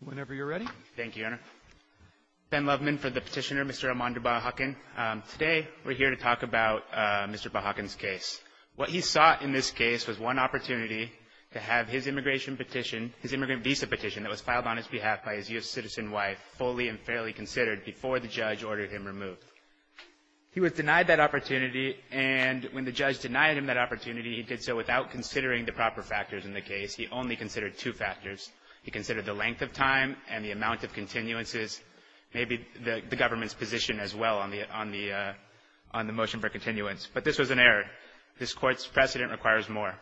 Whenever you're ready. Thank you, Your Honor. Ben Loveman for the petitioner, Mr. Armando Bajacan. Today we're here to talk about Mr. Bajacan's case. What he sought in this case was one opportunity to have his immigration petition, his immigrant visa petition that was filed on his behalf by his U.S. citizen wife, fully and fairly considered before the judge ordered him removed. He was denied that opportunity, and when the judge denied him that opportunity, he did so without considering the proper factors in the case. He only considered two factors. He considered the length of time and the amount of continuances, maybe the government's position as well on the motion for continuance. But this was an error. This Court's precedent requires more.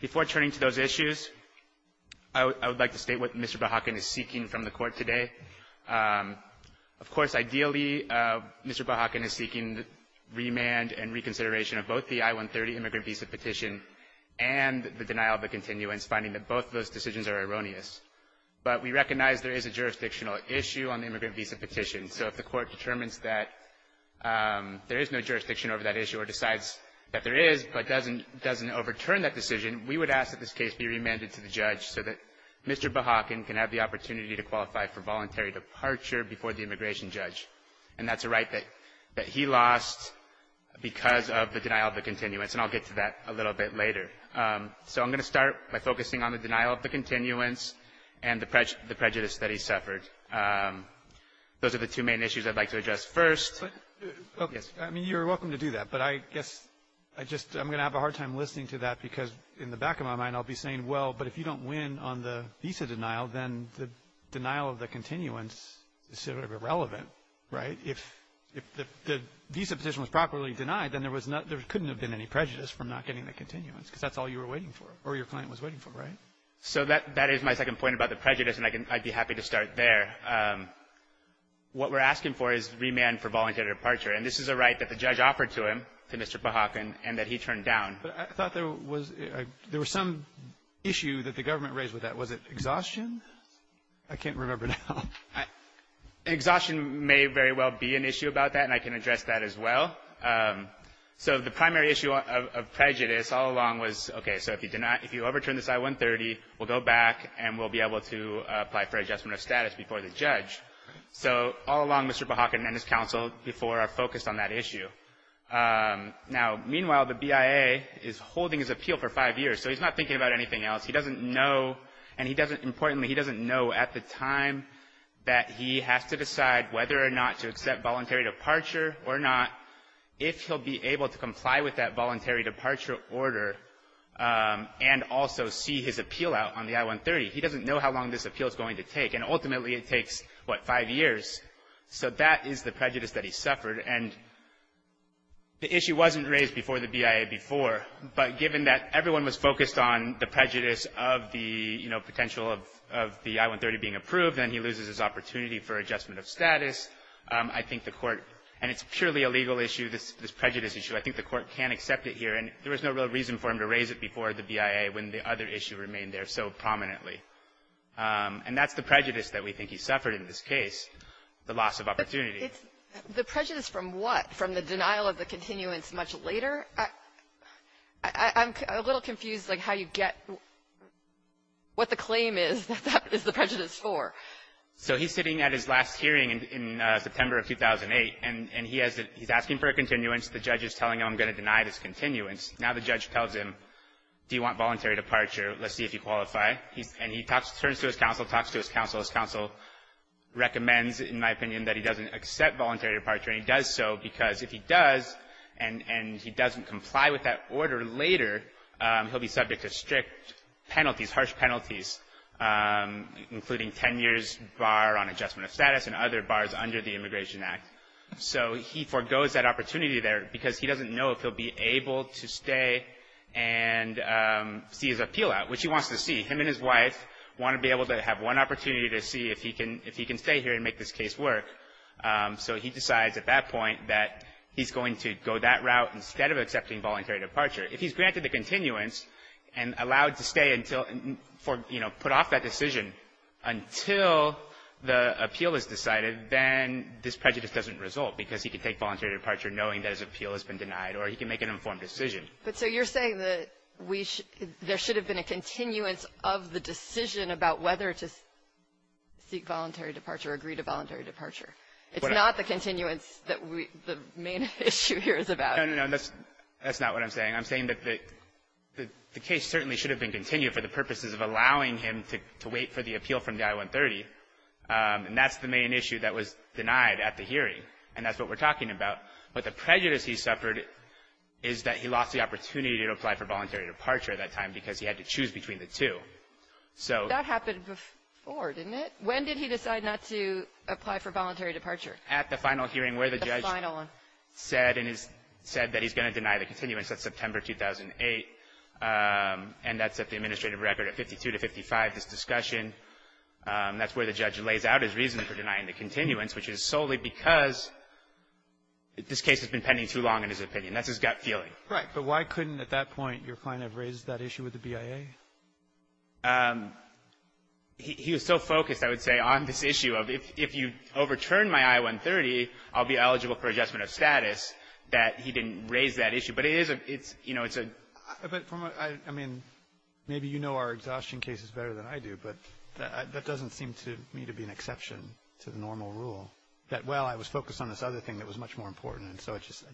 Before turning to those issues, I would like to state what Mr. Bajacan is seeking from the Court today. Of course, ideally, Mr. Bajacan is seeking remand and reconsideration of both the I-130 immigrant visa petition and the denial of the continuance, finding that both of those decisions are erroneous. But we recognize there is a jurisdictional issue on the immigrant visa petition, so if the Court determines that there is no jurisdiction over that issue or decides that there is but doesn't overturn that decision, we would ask that this case be remanded to the judge so that Mr. Bajacan can have the opportunity to qualify for voluntary departure before the immigration judge. And that's a right that he lost because of the denial of the continuance, and I'll get to that a little bit later. So I'm going to start by focusing on the denial of the continuance and the prejudice that he suffered. Those are the two main issues I'd like to address first. I mean, you're welcome to do that, but I guess I just am going to have a hard time listening to that because in the back of my mind I'll be saying, well, but if you don't win on the visa denial, then the denial of the continuance is sort of irrelevant, right? If the visa petition was properly denied, then there couldn't have been any prejudice from not getting the continuance because that's all you were waiting for or your client was waiting for, right? So that is my second point about the prejudice, and I'd be happy to start there. What we're asking for is remand for voluntary departure. And this is a right that the judge offered to him, to Mr. Bajacan, and that he turned down. But I thought there was some issue that the government raised with that. Was it exhaustion? I can't remember now. Exhaustion may very well be an issue about that, and I can address that as well. So the primary issue of prejudice all along was, okay, so if you overturn this I-130, we'll go back and we'll be able to apply for adjustment of status before the judge. So all along, Mr. Bajacan and his counsel before are focused on that issue. Now, meanwhile, the BIA is holding his appeal for five years, so he's not thinking about anything else. He doesn't know, and he doesn't, importantly, he doesn't know at the time that he has to decide whether or not to accept voluntary departure or not, if he'll be able to comply with that voluntary departure order and also see his appeal out on the I-130. He doesn't know how long this appeal is going to take, and ultimately it takes, what, five years. So that is the prejudice that he suffered. And the issue wasn't raised before the BIA before, but given that everyone was focused on the prejudice of the, you know, potential of the I-130 being approved, then he loses his opportunity for adjustment of status. I think the Court, and it's purely a legal issue, this prejudice issue, I think the Court can accept it here, and there was no real reason for him to raise it before the BIA when the other issue remained there so prominently. And that's the prejudice that we think he suffered in this case, the loss of opportunity. Kagan. The prejudice from what? From the denial of the continuance much later? I'm a little confused, like, how you get what the claim is that that is the prejudice for. So he's sitting at his last hearing in September of 2008, and he's asking for a continuance. The judge is telling him, I'm going to deny this continuance. Now the judge tells him, do you want voluntary departure? Let's see if you qualify. And he turns to his counsel, talks to his counsel. His counsel recommends, in my opinion, that he doesn't accept voluntary departure. And he does so because if he does, and he doesn't comply with that order later, he'll be subject to strict penalties, harsh penalties, including 10 years bar on adjustment of status and other bars under the Immigration Act. So he forgoes that opportunity there because he doesn't know if he'll be able to stay and see his appeal out, which he wants to see. Him and his wife want to be able to have one opportunity to see if he can stay here and make this case work. So he decides at that point that he's going to go that route instead of accepting voluntary departure. If he's granted the continuance and allowed to stay until, you know, put off that decision until the appeal is decided, then this prejudice doesn't result because he can take voluntary departure knowing that his appeal has been denied or he can make an informed decision. But so you're saying that there should have been a continuance of the decision about whether to seek voluntary departure or agree to voluntary departure. It's not the continuance that the main issue here is about. No, no, no. That's not what I'm saying. I'm saying that the case certainly should have been continued for the purposes of allowing him to wait for the appeal from the I-130. And that's the main issue that was denied at the hearing. And that's what we're talking about. But the prejudice he suffered is that he lost the opportunity to apply for voluntary departure at that time because he had to choose between the two. That happened before, didn't it? When did he decide not to apply for voluntary departure? At the final hearing where the judge said that he's going to deny the continuance. That's September 2008. And that's at the administrative record at 52 to 55, this discussion. That's where the judge lays out his reason for denying the continuance, which is solely because this case has been pending too long, in his opinion. That's his gut feeling. Right. But why couldn't, at that point, your client have raised that issue with the BIA? He was so focused, I would say, on this issue of if you overturn my I-130, I'll be eligible for adjustment of status, that he didn't raise that issue. But it is a — it's, you know, it's a — But from a — I mean, maybe you know our exhaustion cases better than I do, but that doesn't seem to me to be an exception to the normal rule, that, well, I was focused on this other thing that was much more important, and so I just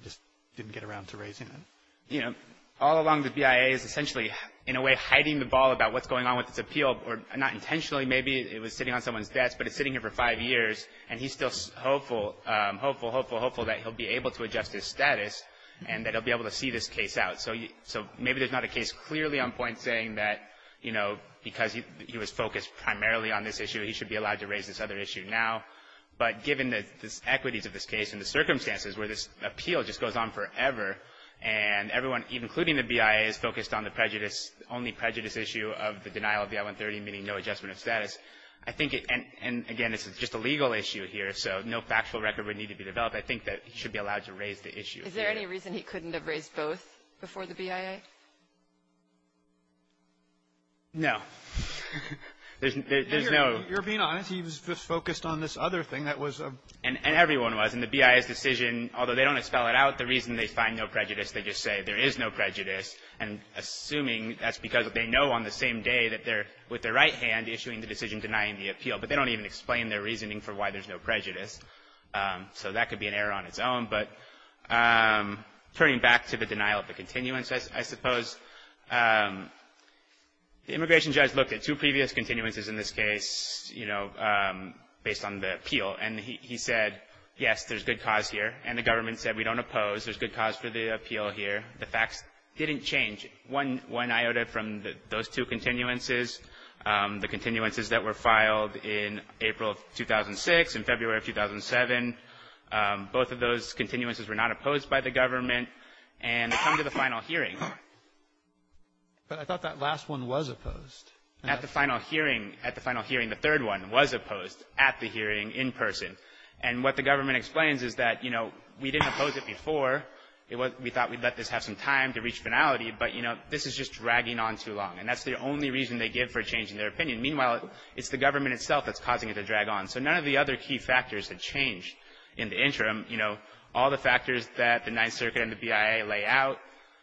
didn't get around to raising it. You know, all along the BIA is essentially, in a way, hiding the ball about what's going on with this appeal, or not intentionally. Maybe it was sitting on someone's desk, but it's sitting here for five years, and he's still hopeful, hopeful, hopeful, hopeful that he'll be able to adjust his status and that he'll be able to see this case out. So maybe there's not a case clearly on point saying that, you know, because he was focused primarily on this issue, he should be allowed to raise this other issue now. But given the equities of this case and the circumstances where this appeal just goes on forever, and everyone, including the BIA, is focused on the prejudice — only prejudice issue of the denial of the I-130, meaning no adjustment of status, I think it — and, again, this is just a legal issue here, so no factual record would need to be developed. I think that he should be allowed to raise the issue. Is there any reason he couldn't have raised both before the BIA? No. There's no — You're being honest. He was just focused on this other thing that was — And everyone was. And the BIA's decision, although they don't expel it out, the reason they find no prejudice, they just say there is no prejudice, and assuming that's because they know on the same day that they're, with their right hand, issuing the decision denying the appeal. But they don't even explain their reasoning for why there's no prejudice. So that could be an error on its own, but turning back to the denial of the continuance, I suppose the immigration judge looked at two previous continuances in this case, you know, based on the appeal, and he said, yes, there's good cause here, and the government said we don't oppose, there's good cause for the appeal here. The facts didn't change. One iota from those two continuances, the continuances that were filed in April of 2006 and February of 2007, both of those continuances were not opposed by the government, and they come to the final hearing. But I thought that last one was opposed. At the final hearing, the third one was opposed at the hearing in person. And what the government explains is that, you know, we didn't oppose it before. We thought we'd let this have some time to reach finality, but, you know, this is just dragging on too long, and that's the only reason they give for a change in their opinion. Meanwhile, it's the government itself that's causing it to drag on. So none of the other key factors have changed in the interim. You know, all the factors that the Ninth Circuit and the BIA lay out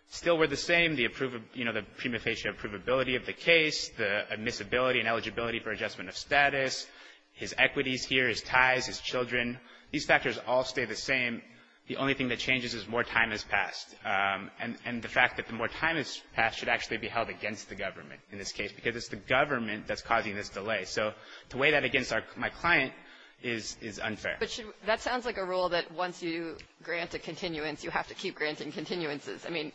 still were the same, you know, the prima facie approvability of the case, the admissibility and eligibility for adjustment of status, his equities here, his ties, his children. These factors all stay the same. The only thing that changes is more time has passed, and the fact that the more time has passed should actually be held against the government in this case because it's the government that's causing this delay. So to weigh that against my client is unfair. But that sounds like a rule that once you grant a continuance, you have to keep granting continuances. I mean,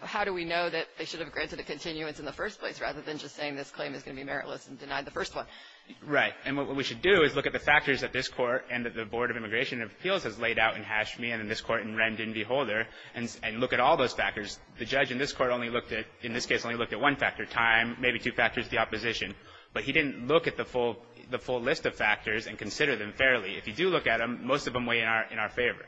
how do we know that they should have granted a continuance in the first place rather than just saying this claim is going to be meritless and denied the first one? Right. And what we should do is look at the factors that this Court and that the Board of Immigration and Appeals has laid out in Hashmi and in this Court in Rendon v. Holder and look at all those factors. The judge in this Court only looked at, in this case, only looked at one factor, time, maybe two factors, the opposition. But he didn't look at the full list of factors and consider them fairly. If you do look at them, most of them weigh in our favor.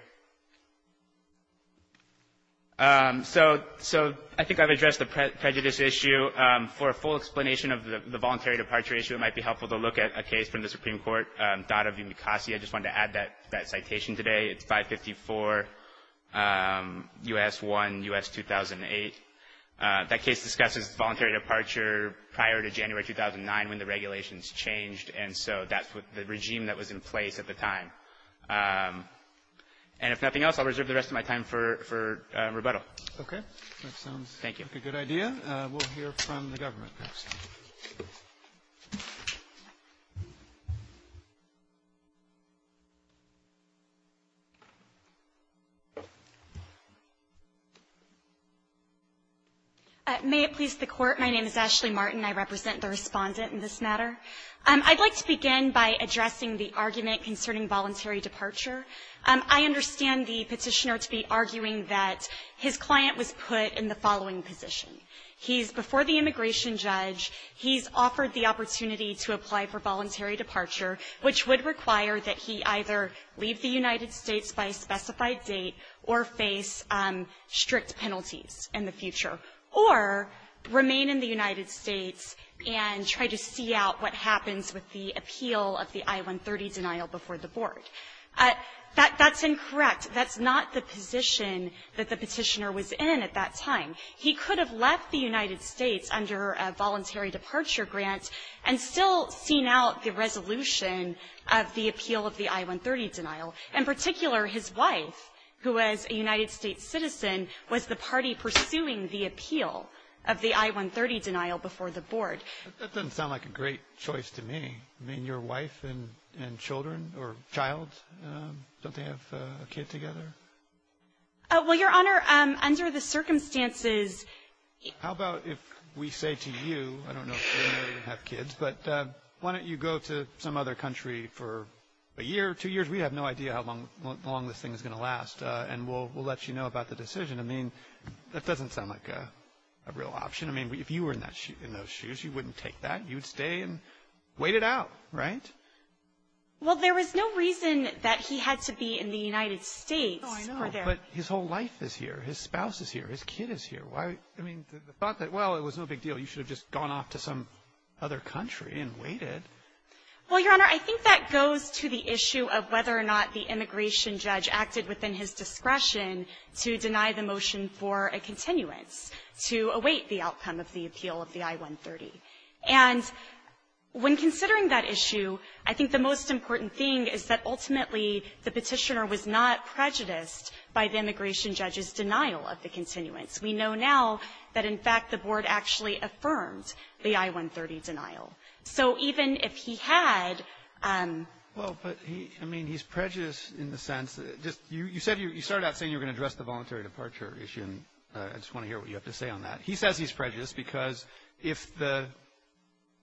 So I think I've addressed the prejudice issue. For a full explanation of the voluntary departure issue, it might be helpful to look at a case from the Supreme Court, Dada v. Mukasey. I just wanted to add that citation today. It's 554 U.S. 1, U.S. 2008. That case discusses voluntary departure prior to January 2009 when the regulations changed, and so that's the regime that was in place at the time. And if nothing else, I'll reserve the rest of my time for rebuttal. Okay. Thank you. We'll hear from the government next. May it please the Court. My name is Ashley Martin. I represent the Respondent in this matter. I'd like to begin by addressing the argument concerning voluntary departure. I understand the Petitioner to be arguing that his client was put in the following position. He's before the immigration judge. He's offered the opportunity to apply for voluntary departure, which would require that he either leave the United States by a specified date or face strict penalties in the future, or remain in the United States and try to see out what happens with the appeal of the I-130 denial before the Board. That's incorrect. That's not the position that the Petitioner was in at that time. He could have left the United States under a voluntary departure grant and still seen out the resolution of the appeal of the I-130 denial. In particular, his wife, who was a United States citizen, was the party pursuing the appeal of the I-130 denial before the Board. That doesn't sound like a great choice to me. I mean, your wife and children or child, don't they have a kid together? Well, Your Honor, under the circumstances. How about if we say to you, I don't know if you have kids, but why don't you go to some other country for a year or two years? We have no idea how long this thing is going to last, and we'll let you know about the decision. I mean, that doesn't sound like a real option. I mean, if you were in those shoes, you wouldn't take that. You'd stay and wait it out, right? Well, there was no reason that he had to be in the United States. Oh, I know. But his whole life is here. His spouse is here. His kid is here. Why? I mean, the thought that, well, it was no big deal. You should have just gone off to some other country and waited. Well, Your Honor, I think that goes to the issue of whether or not the immigration judge acted within his discretion to deny the motion for a continuance to await the outcome of the appeal of the I-130. And when considering that issue, I think the most important thing is that ultimately the petitioner was not prejudiced by the immigration judge's denial of the continuance. We know now that, in fact, the Board actually affirmed the I-130 denial. So even if he had ---- Well, but, I mean, he's prejudiced in the sense that just you said you started out saying you were going to address the voluntary departure issue, and I just want to hear what you have to say on that. He says he's prejudiced because if the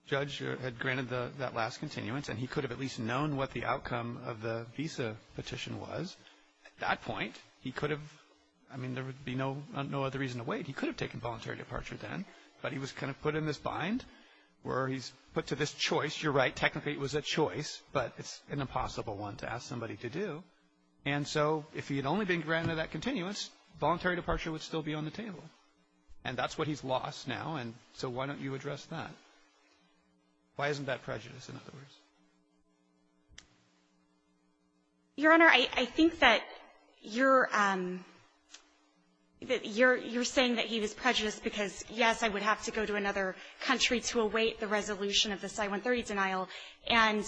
judge had granted that last continuance and he could have at least known what the outcome of the visa petition was, at that point he could have ---- I mean, there would be no other reason to wait. He could have taken voluntary departure then, but he was kind of put in this bind where he's put to this choice. You're right. Technically it was a choice, but it's an impossible one to ask somebody to do. And so if he had only been granted that continuance, voluntary departure would still be on the table. And that's what he's lost now, and so why don't you address that? Why isn't that prejudice, in other words? Your Honor, I think that you're ---- that you're saying that he was prejudiced because, yes, I would have to go to another country to await the resolution of the I-130 denial, and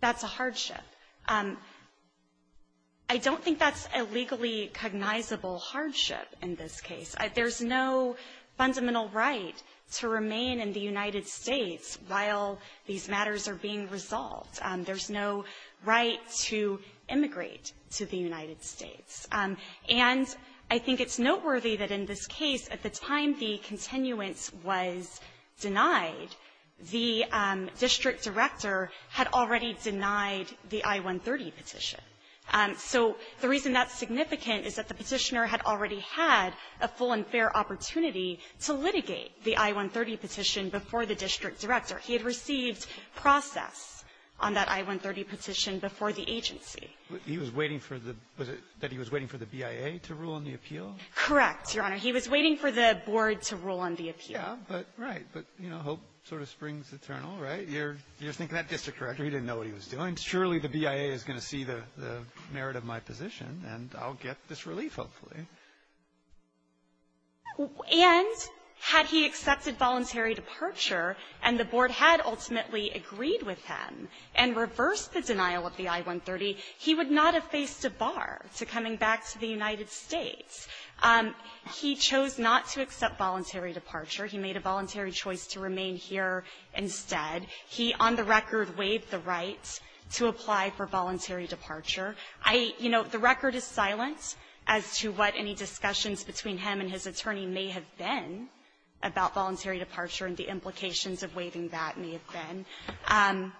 that's a hardship. I don't think that's a legally cognizable hardship in this case. There's no fundamental right to remain in the United States while these matters are being resolved. There's no right to immigrate to the United States. And I think it's noteworthy that in this case, at the time the continuance was denied, the district director had already denied the I-130 petition. And so the reason that's significant is that the Petitioner had already had a full and fair opportunity to litigate the I-130 petition before the district director. He had received process on that I-130 petition before the agency. He was waiting for the ---- was it that he was waiting for the BIA to rule on the appeal? Correct, Your Honor. He was waiting for the board to rule on the appeal. Yeah, but right. But, you know, hope sort of springs eternal, right? You're thinking that district director, he didn't know what he was doing. I mean, surely the BIA is going to see the merit of my position, and I'll get this relief, hopefully. And had he accepted voluntary departure and the board had ultimately agreed with him and reversed the denial of the I-130, he would not have faced a bar to coming back to the United States. He chose not to accept voluntary departure. He made a voluntary choice to remain here instead. He, on the record, waived the right to apply for voluntary departure. I, you know, the record is silent as to what any discussions between him and his attorney may have been about voluntary departure and the implications of waiving that may have been.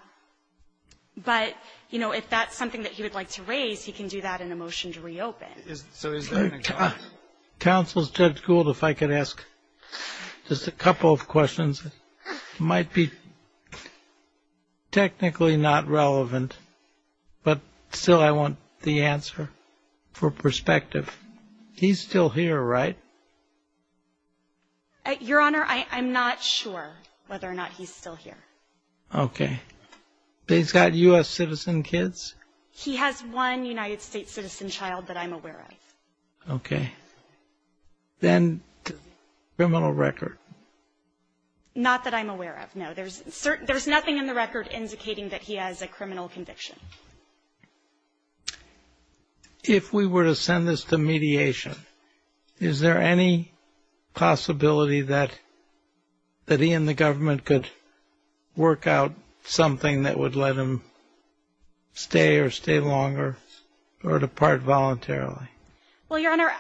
But, you know, if that's something that he would like to raise, he can do that in a motion to reopen. Counsel, Judge Gould, if I could ask just a couple of questions. It might be technically not relevant, but still I want the answer for perspective. He's still here, right? Your Honor, I'm not sure whether or not he's still here. Okay. But he's got U.S. citizen kids? He has one United States citizen child that I'm aware of. Okay. Then criminal record? Not that I'm aware of, no. There's nothing in the record indicating that he has a criminal conviction. If we were to send this to mediation, is there any possibility that he and the government could work out something that would let him stay or stay longer or depart voluntarily? Well, Your Honor,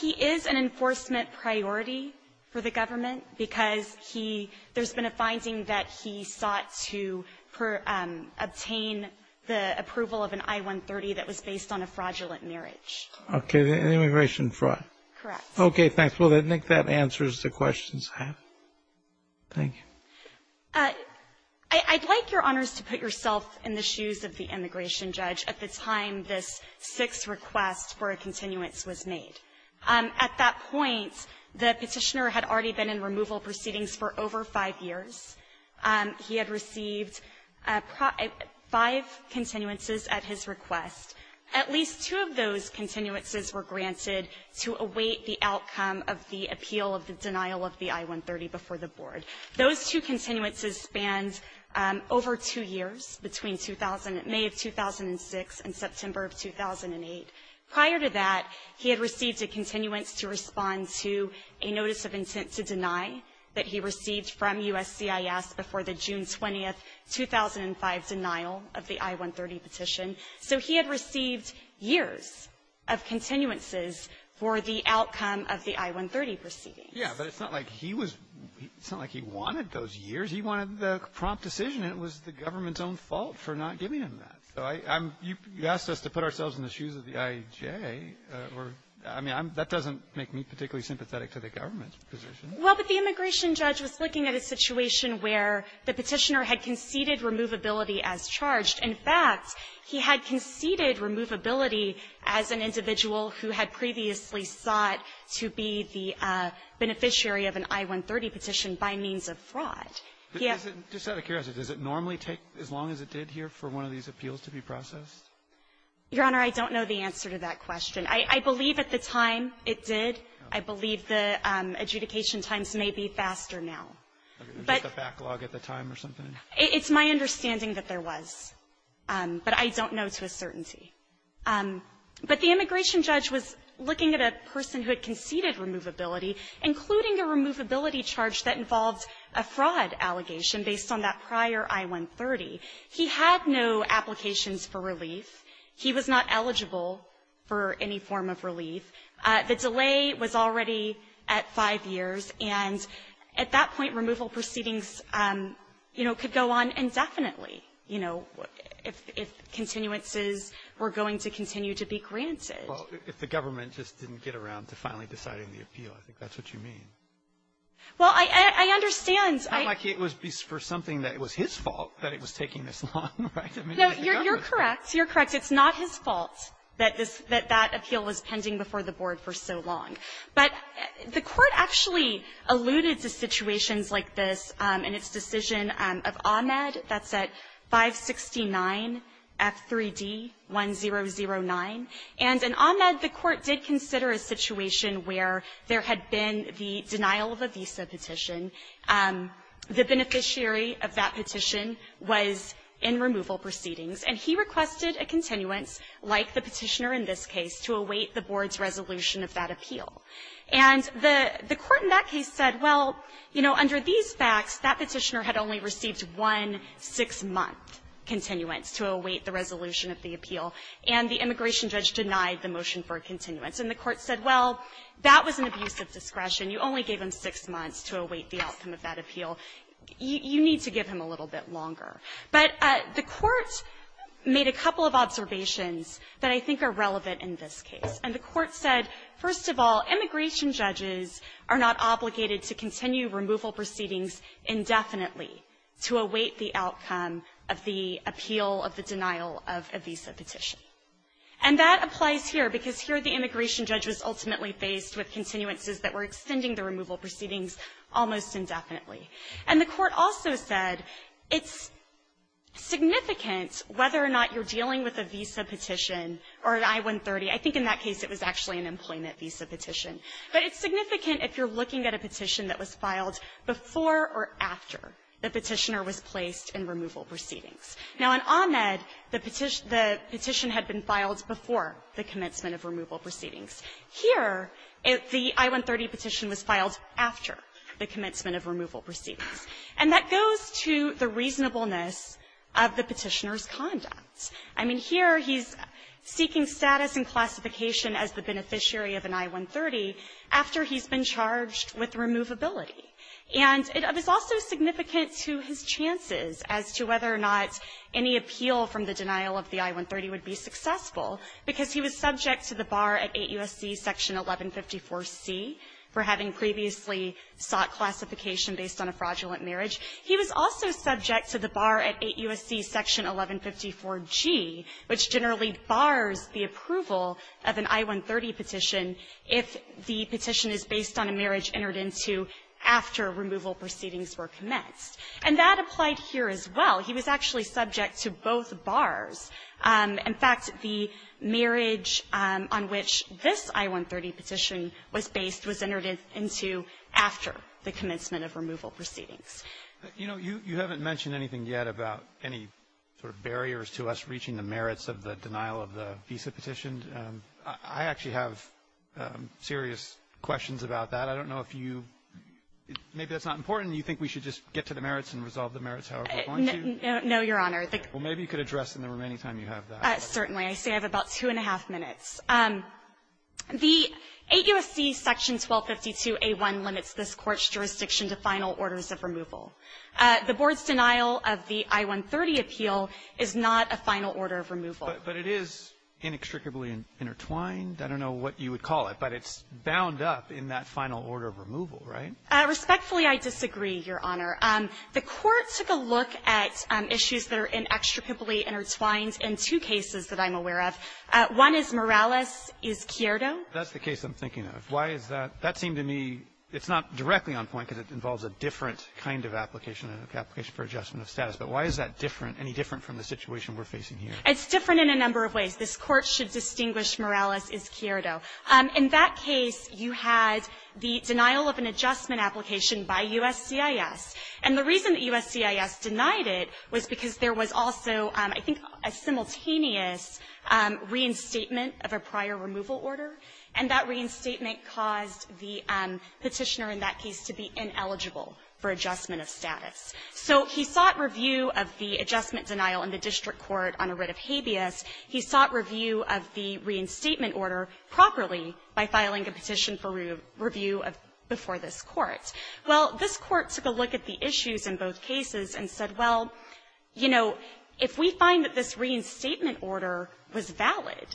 he is an enforcement priority for the government because he – there's been a finding that he sought to obtain the approval of an I-130 that was based on a fraudulent marriage. Okay. Immigration fraud. Correct. Okay. Thanks. Well, I think that answers the questions I have. Thank you. I'd like, Your Honors, to put yourself in the shoes of the immigration judge at the time this sixth request for a continuance was made. At that point, the Petitioner had already been in removal proceedings for over five years. He had received five continuances at his request. At least two of those continuances were granted to await the outcome of the appeal of the denial of the I-130 before the Board. Those two continuances spanned over two years, between May of 2006 and September of 2008. Prior to that, he had received a continuance to respond to a notice of intent to deny that he received from USCIS before the June 20, 2005, denial of the I-130 petition. So he had received years of continuances for the outcome of the I-130 proceedings. Yeah. But it's not like he was – it's not like he wanted those years. He wanted the prompt decision, and it was the government's own fault for not giving him that. So I'm – you asked us to put ourselves in the shoes of the I-J. I mean, that doesn't make me particularly sympathetic to the government's position. Well, but the immigration judge was looking at a situation where the Petitioner had conceded removability as charged. In fact, he had conceded removability as an individual who had previously sought to be the beneficiary of an I-130 petition by means of fraud. He had – But is it – just out of curiosity, does it normally take as long as it did here for one of these appeals to be processed? Your Honor, I don't know the answer to that question. I believe at the time it did. I believe the adjudication times may be faster now. But – It was just a backlog at the time or something? It's my understanding that there was. But I don't know to a certainty. But the immigration judge was looking at a person who had conceded removability, including a removability charge that involved a fraud allegation based on that prior I-130. He had no applications for relief. He was not eligible for any form of relief. The delay was already at five years. And at that point, removal proceedings, you know, could go on indefinitely, you know, if continuances were going to continue to be granted. Well, if the government just didn't get around to finally deciding the appeal, I think that's what you mean. Well, I understand. I like it was for something that was his fault that it was taking this long, right? No, you're correct. You're correct. It's not his fault that this – that that appeal was pending before the Board for so long. But the Court actually alluded to situations like this in its decision of Ahmed. That's at 569F3D1009. And in Ahmed, the Court did consider a situation where there had been the denial of a visa petition. The beneficiary of that petition was in removal proceedings. And he requested a continuance, like the Petitioner in this case, to await the Board's resolution of that appeal. And the Court in that case said, well, you know, under these facts, that Petitioner had only received one 6-month continuance to await the resolution of the appeal, and the immigration judge denied the motion for a continuance. And the Court said, well, that was an abuse of discretion. You only gave him 6 months to await the outcome of that appeal. You need to give him a little bit longer. But the Court made a couple of observations that I think are relevant in this case. And the Court said, first of all, immigration judges are not obligated to continue removal proceedings indefinitely to await the outcome of the appeal of the denial of a visa petition. And that applies here, because here the immigration judge was ultimately faced with continuances that were extending the removal proceedings almost indefinitely. And the Court also said it's significant whether or not you're dealing with a visa petition or an I-130. I think in that case it was actually an employment visa petition. But it's significant if you're looking at a petition that was filed before or after the Petitioner was placed in removal proceedings. Now, in Ahmed, the petition had been filed before the commencement of removal proceedings. Here, the I-130 petition was filed after the commencement of removal proceedings. And that goes to the reasonableness of the Petitioner's conduct. I mean, here he's seeking status and classification as the beneficiary of an I-130 after he's been charged with removability. And it is also significant to his chances as to whether or not any appeal from the denial of the I-130 would be successful, because he was subject to the bar at 8 U.S.C. section 1154C for having previously sought classification based on a fraudulent marriage. He was also subject to the bar at 8 U.S.C. section 1154G, which generally bars the approval of an I-130 petition if the petition is based on a marriage entered into after removal proceedings were commenced. And that applied here as well. He was actually subject to both bars. In fact, the marriage on which this I-130 petition was based was entered into after the commencement of removal proceedings. You know, you haven't mentioned anything yet about any sort of barriers to us reaching the merits of the denial of the visa petition. I actually have serious questions about that. I don't know if you – maybe that's not important. You think we should just get to the merits and resolve the merits however we want to? No, Your Honor. Well, maybe you could address in the remaining time you have that. Certainly. I say I have about two and a half minutes. The 8 U.S.C. section 1252A1 limits this Court's jurisdiction to final orders of removal. The Board's denial of the I-130 appeal is not a final order of removal. But it is inextricably intertwined. I don't know what you would call it, but it's bound up in that final order of removal, right? Respectfully, I disagree, Your Honor. The Court took a look at issues that are inextricably intertwined in two cases that I'm aware of. One is Morales-Izquierdo. That's the case I'm thinking of. Why is that? That seemed to me it's not directly on point because it involves a different kind of application, an application for adjustment of status. But why is that different, any different from the situation we're facing here? It's different in a number of ways. This Court should distinguish Morales-Izquierdo. In that case, you had the denial of an adjustment application by USCIS. And the reason that USCIS denied it was because there was also, I think, a simultaneous reinstatement of a prior removal order. And that reinstatement caused the Petitioner in that case to be ineligible for adjustment of status. So he sought review of the adjustment denial in the district court on a writ of habeas. He sought review of the reinstatement order properly by filing a petition for review before this Court. Well, this Court took a look at the issues in both cases and said, well, you know, if we find that this reinstatement order was valid,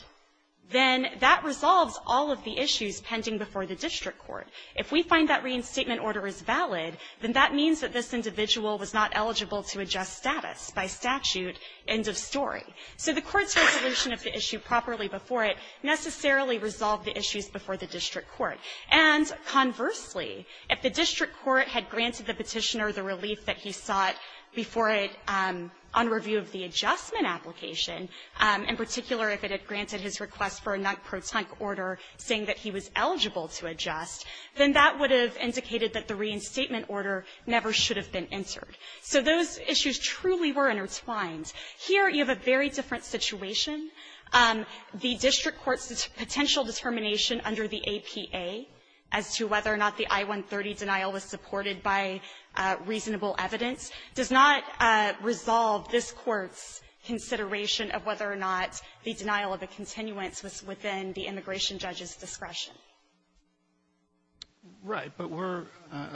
then that resolves all of the issues pending before the district court. If we find that reinstatement order is valid, then that means that this individual was not eligible to adjust status by statute, end of story. So the Court's resolution of the issue properly before it necessarily resolved the issues before the district court. And conversely, if the district court had granted the Petitioner the relief that he sought before it on review of the adjustment application, in particular, if it had granted his request for a non-protunct order saying that he was eligible to adjust, then that would have indicated that the reinstatement order never should have been entered. So those issues truly were intertwined. Here, you have a very different situation. The district court's potential determination under the APA as to whether or not the does not resolve this Court's consideration of whether or not the denial of a continuance was within the immigration judge's discretion. Gershengorn Right. But we're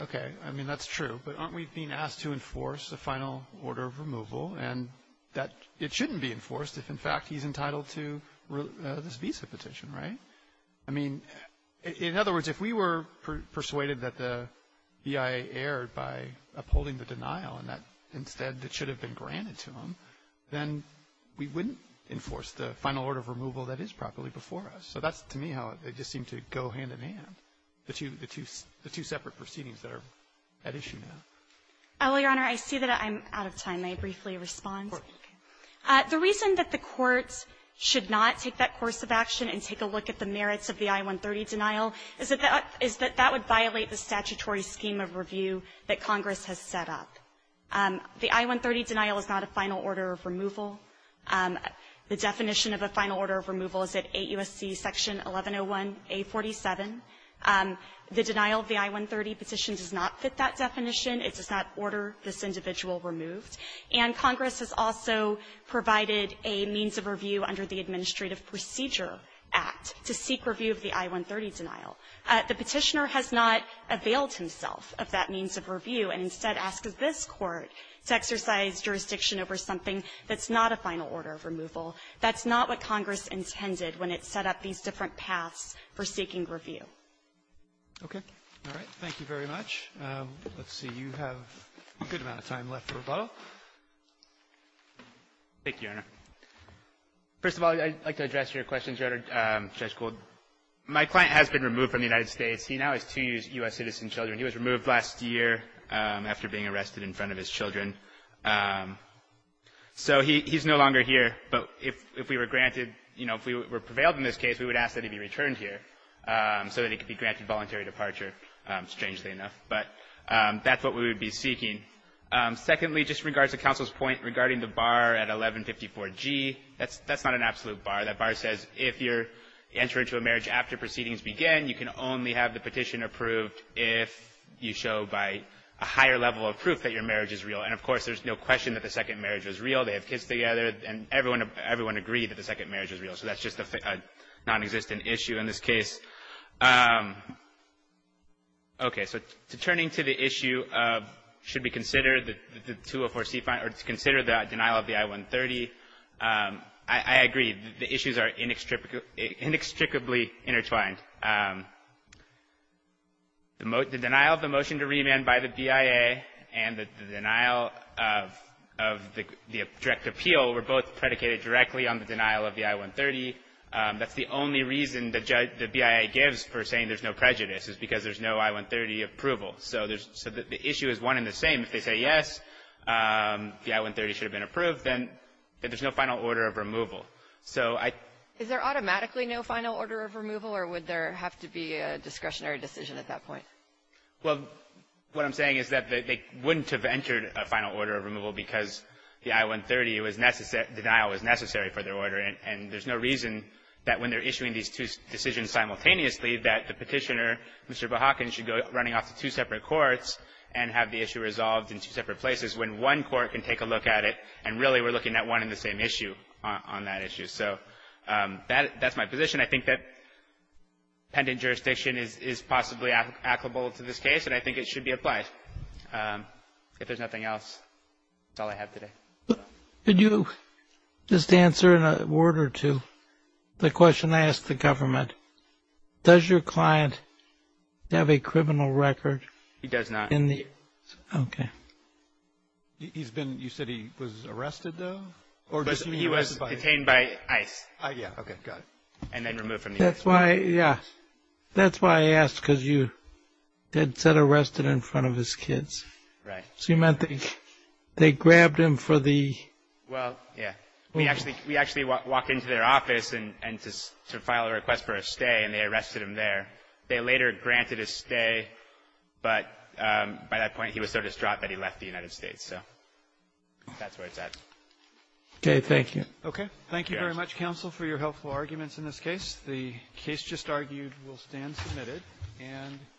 okay. I mean, that's true. But aren't we being asked to enforce a final order of removal, and that it shouldn't be enforced if, in fact, he's entitled to this visa petition, right? I mean, in other words, if we were persuaded that the BIA erred by upholding the denial and that instead it should have been granted to him, then we wouldn't enforce the final order of removal that is properly before us. So that's, to me, how it just seemed to go hand-in-hand, the two separate proceedings that are at issue now. Harrington Oh, Your Honor, I see that I'm out of time. May I briefly respond? The reason that the Court should not take that course of action and take a look at the merits of the I-130 denial is that that would violate the statutory scheme of review that Congress has set up. The I-130 denial is not a final order of removal. The definition of a final order of removal is at 8 U.S.C. section 1101A47. The denial of the I-130 petition does not fit that definition. It does not order this individual removed. And Congress has also provided a means of review under the Administrative Procedure Act to seek review of the I-130 denial. The Petitioner has not availed himself of that means of review, and instead asks this Court to exercise jurisdiction over something that's not a final order of removal. That's not what Congress intended when it set up these different paths for seeking review. Roberts. Okay. All right. Thank you very much. Let's see. You have a good amount of time left for rebuttal. Thank you, Your Honor. First of all, I'd like to address your question, Judge Gold. My client has been removed from the United States. He now has two U.S. citizen children. He was removed last year after being arrested in front of his children. So he's no longer here. But if we were granted, you know, if we were prevailed in this case, we would ask that he be returned here so that he could be granted voluntary departure, strangely enough. But that's what we would be seeking. Secondly, just in regards to counsel's point regarding the bar at 1154G, that's not an absolute bar. That bar says if you're entering into a marriage after proceedings begin, you can only have the petition approved if you show by a higher level of proof that your marriage is real. And, of course, there's no question that the second marriage was real. They have kids together. And everyone agreed that the second marriage was real. So that's just a nonexistent issue in this case. Okay. So turning to the issue of should we consider the 204C or consider the denial of the I-130, I agree. The issues are inextricably intertwined. The denial of the motion to remand by the BIA and the denial of the direct appeal were both predicated directly on the denial of the I-130. That's the only reason the BIA gives for saying there's no prejudice, is because there's no I-130 approval. So the issue is one and the same. If they say yes, the I-130 should have been approved, then there's no final order of removal. So I — Is there automatically no final order of removal, or would there have to be a discretionary decision at that point? Well, what I'm saying is that they wouldn't have entered a final order of removal because the I-130 was — denial was necessary for their order. And there's no reason that when they're issuing these two decisions simultaneously that the petitioner, Mr. Behaken, should go running off to two separate courts and have the issue resolved in two separate places when one court can take a look at it and really we're looking at one and the same issue on that issue. So that's my position. I think that pendant jurisdiction is possibly applicable to this case, and I think it should be applied. If there's nothing else, that's all I have today. Could you just answer in a word or two the question I asked the government? Does your client have a criminal record — He does not. Okay. He's been — you said he was arrested, though? He was detained by ICE. Yeah, okay, got it. And then removed from the — That's why — yeah. That's why I asked, because you had said arrested in front of his kids. Right. So you meant they grabbed him for the — Well, yeah. We actually walked into their office to file a request for a stay, and they arrested him there. They later granted his stay, but by that point, he was so distraught that he left the United States. So that's where it's at. Okay. Thank you. Okay. Thank you very much, counsel, for your helpful arguments in this case. The case just argued will stand submitted. And —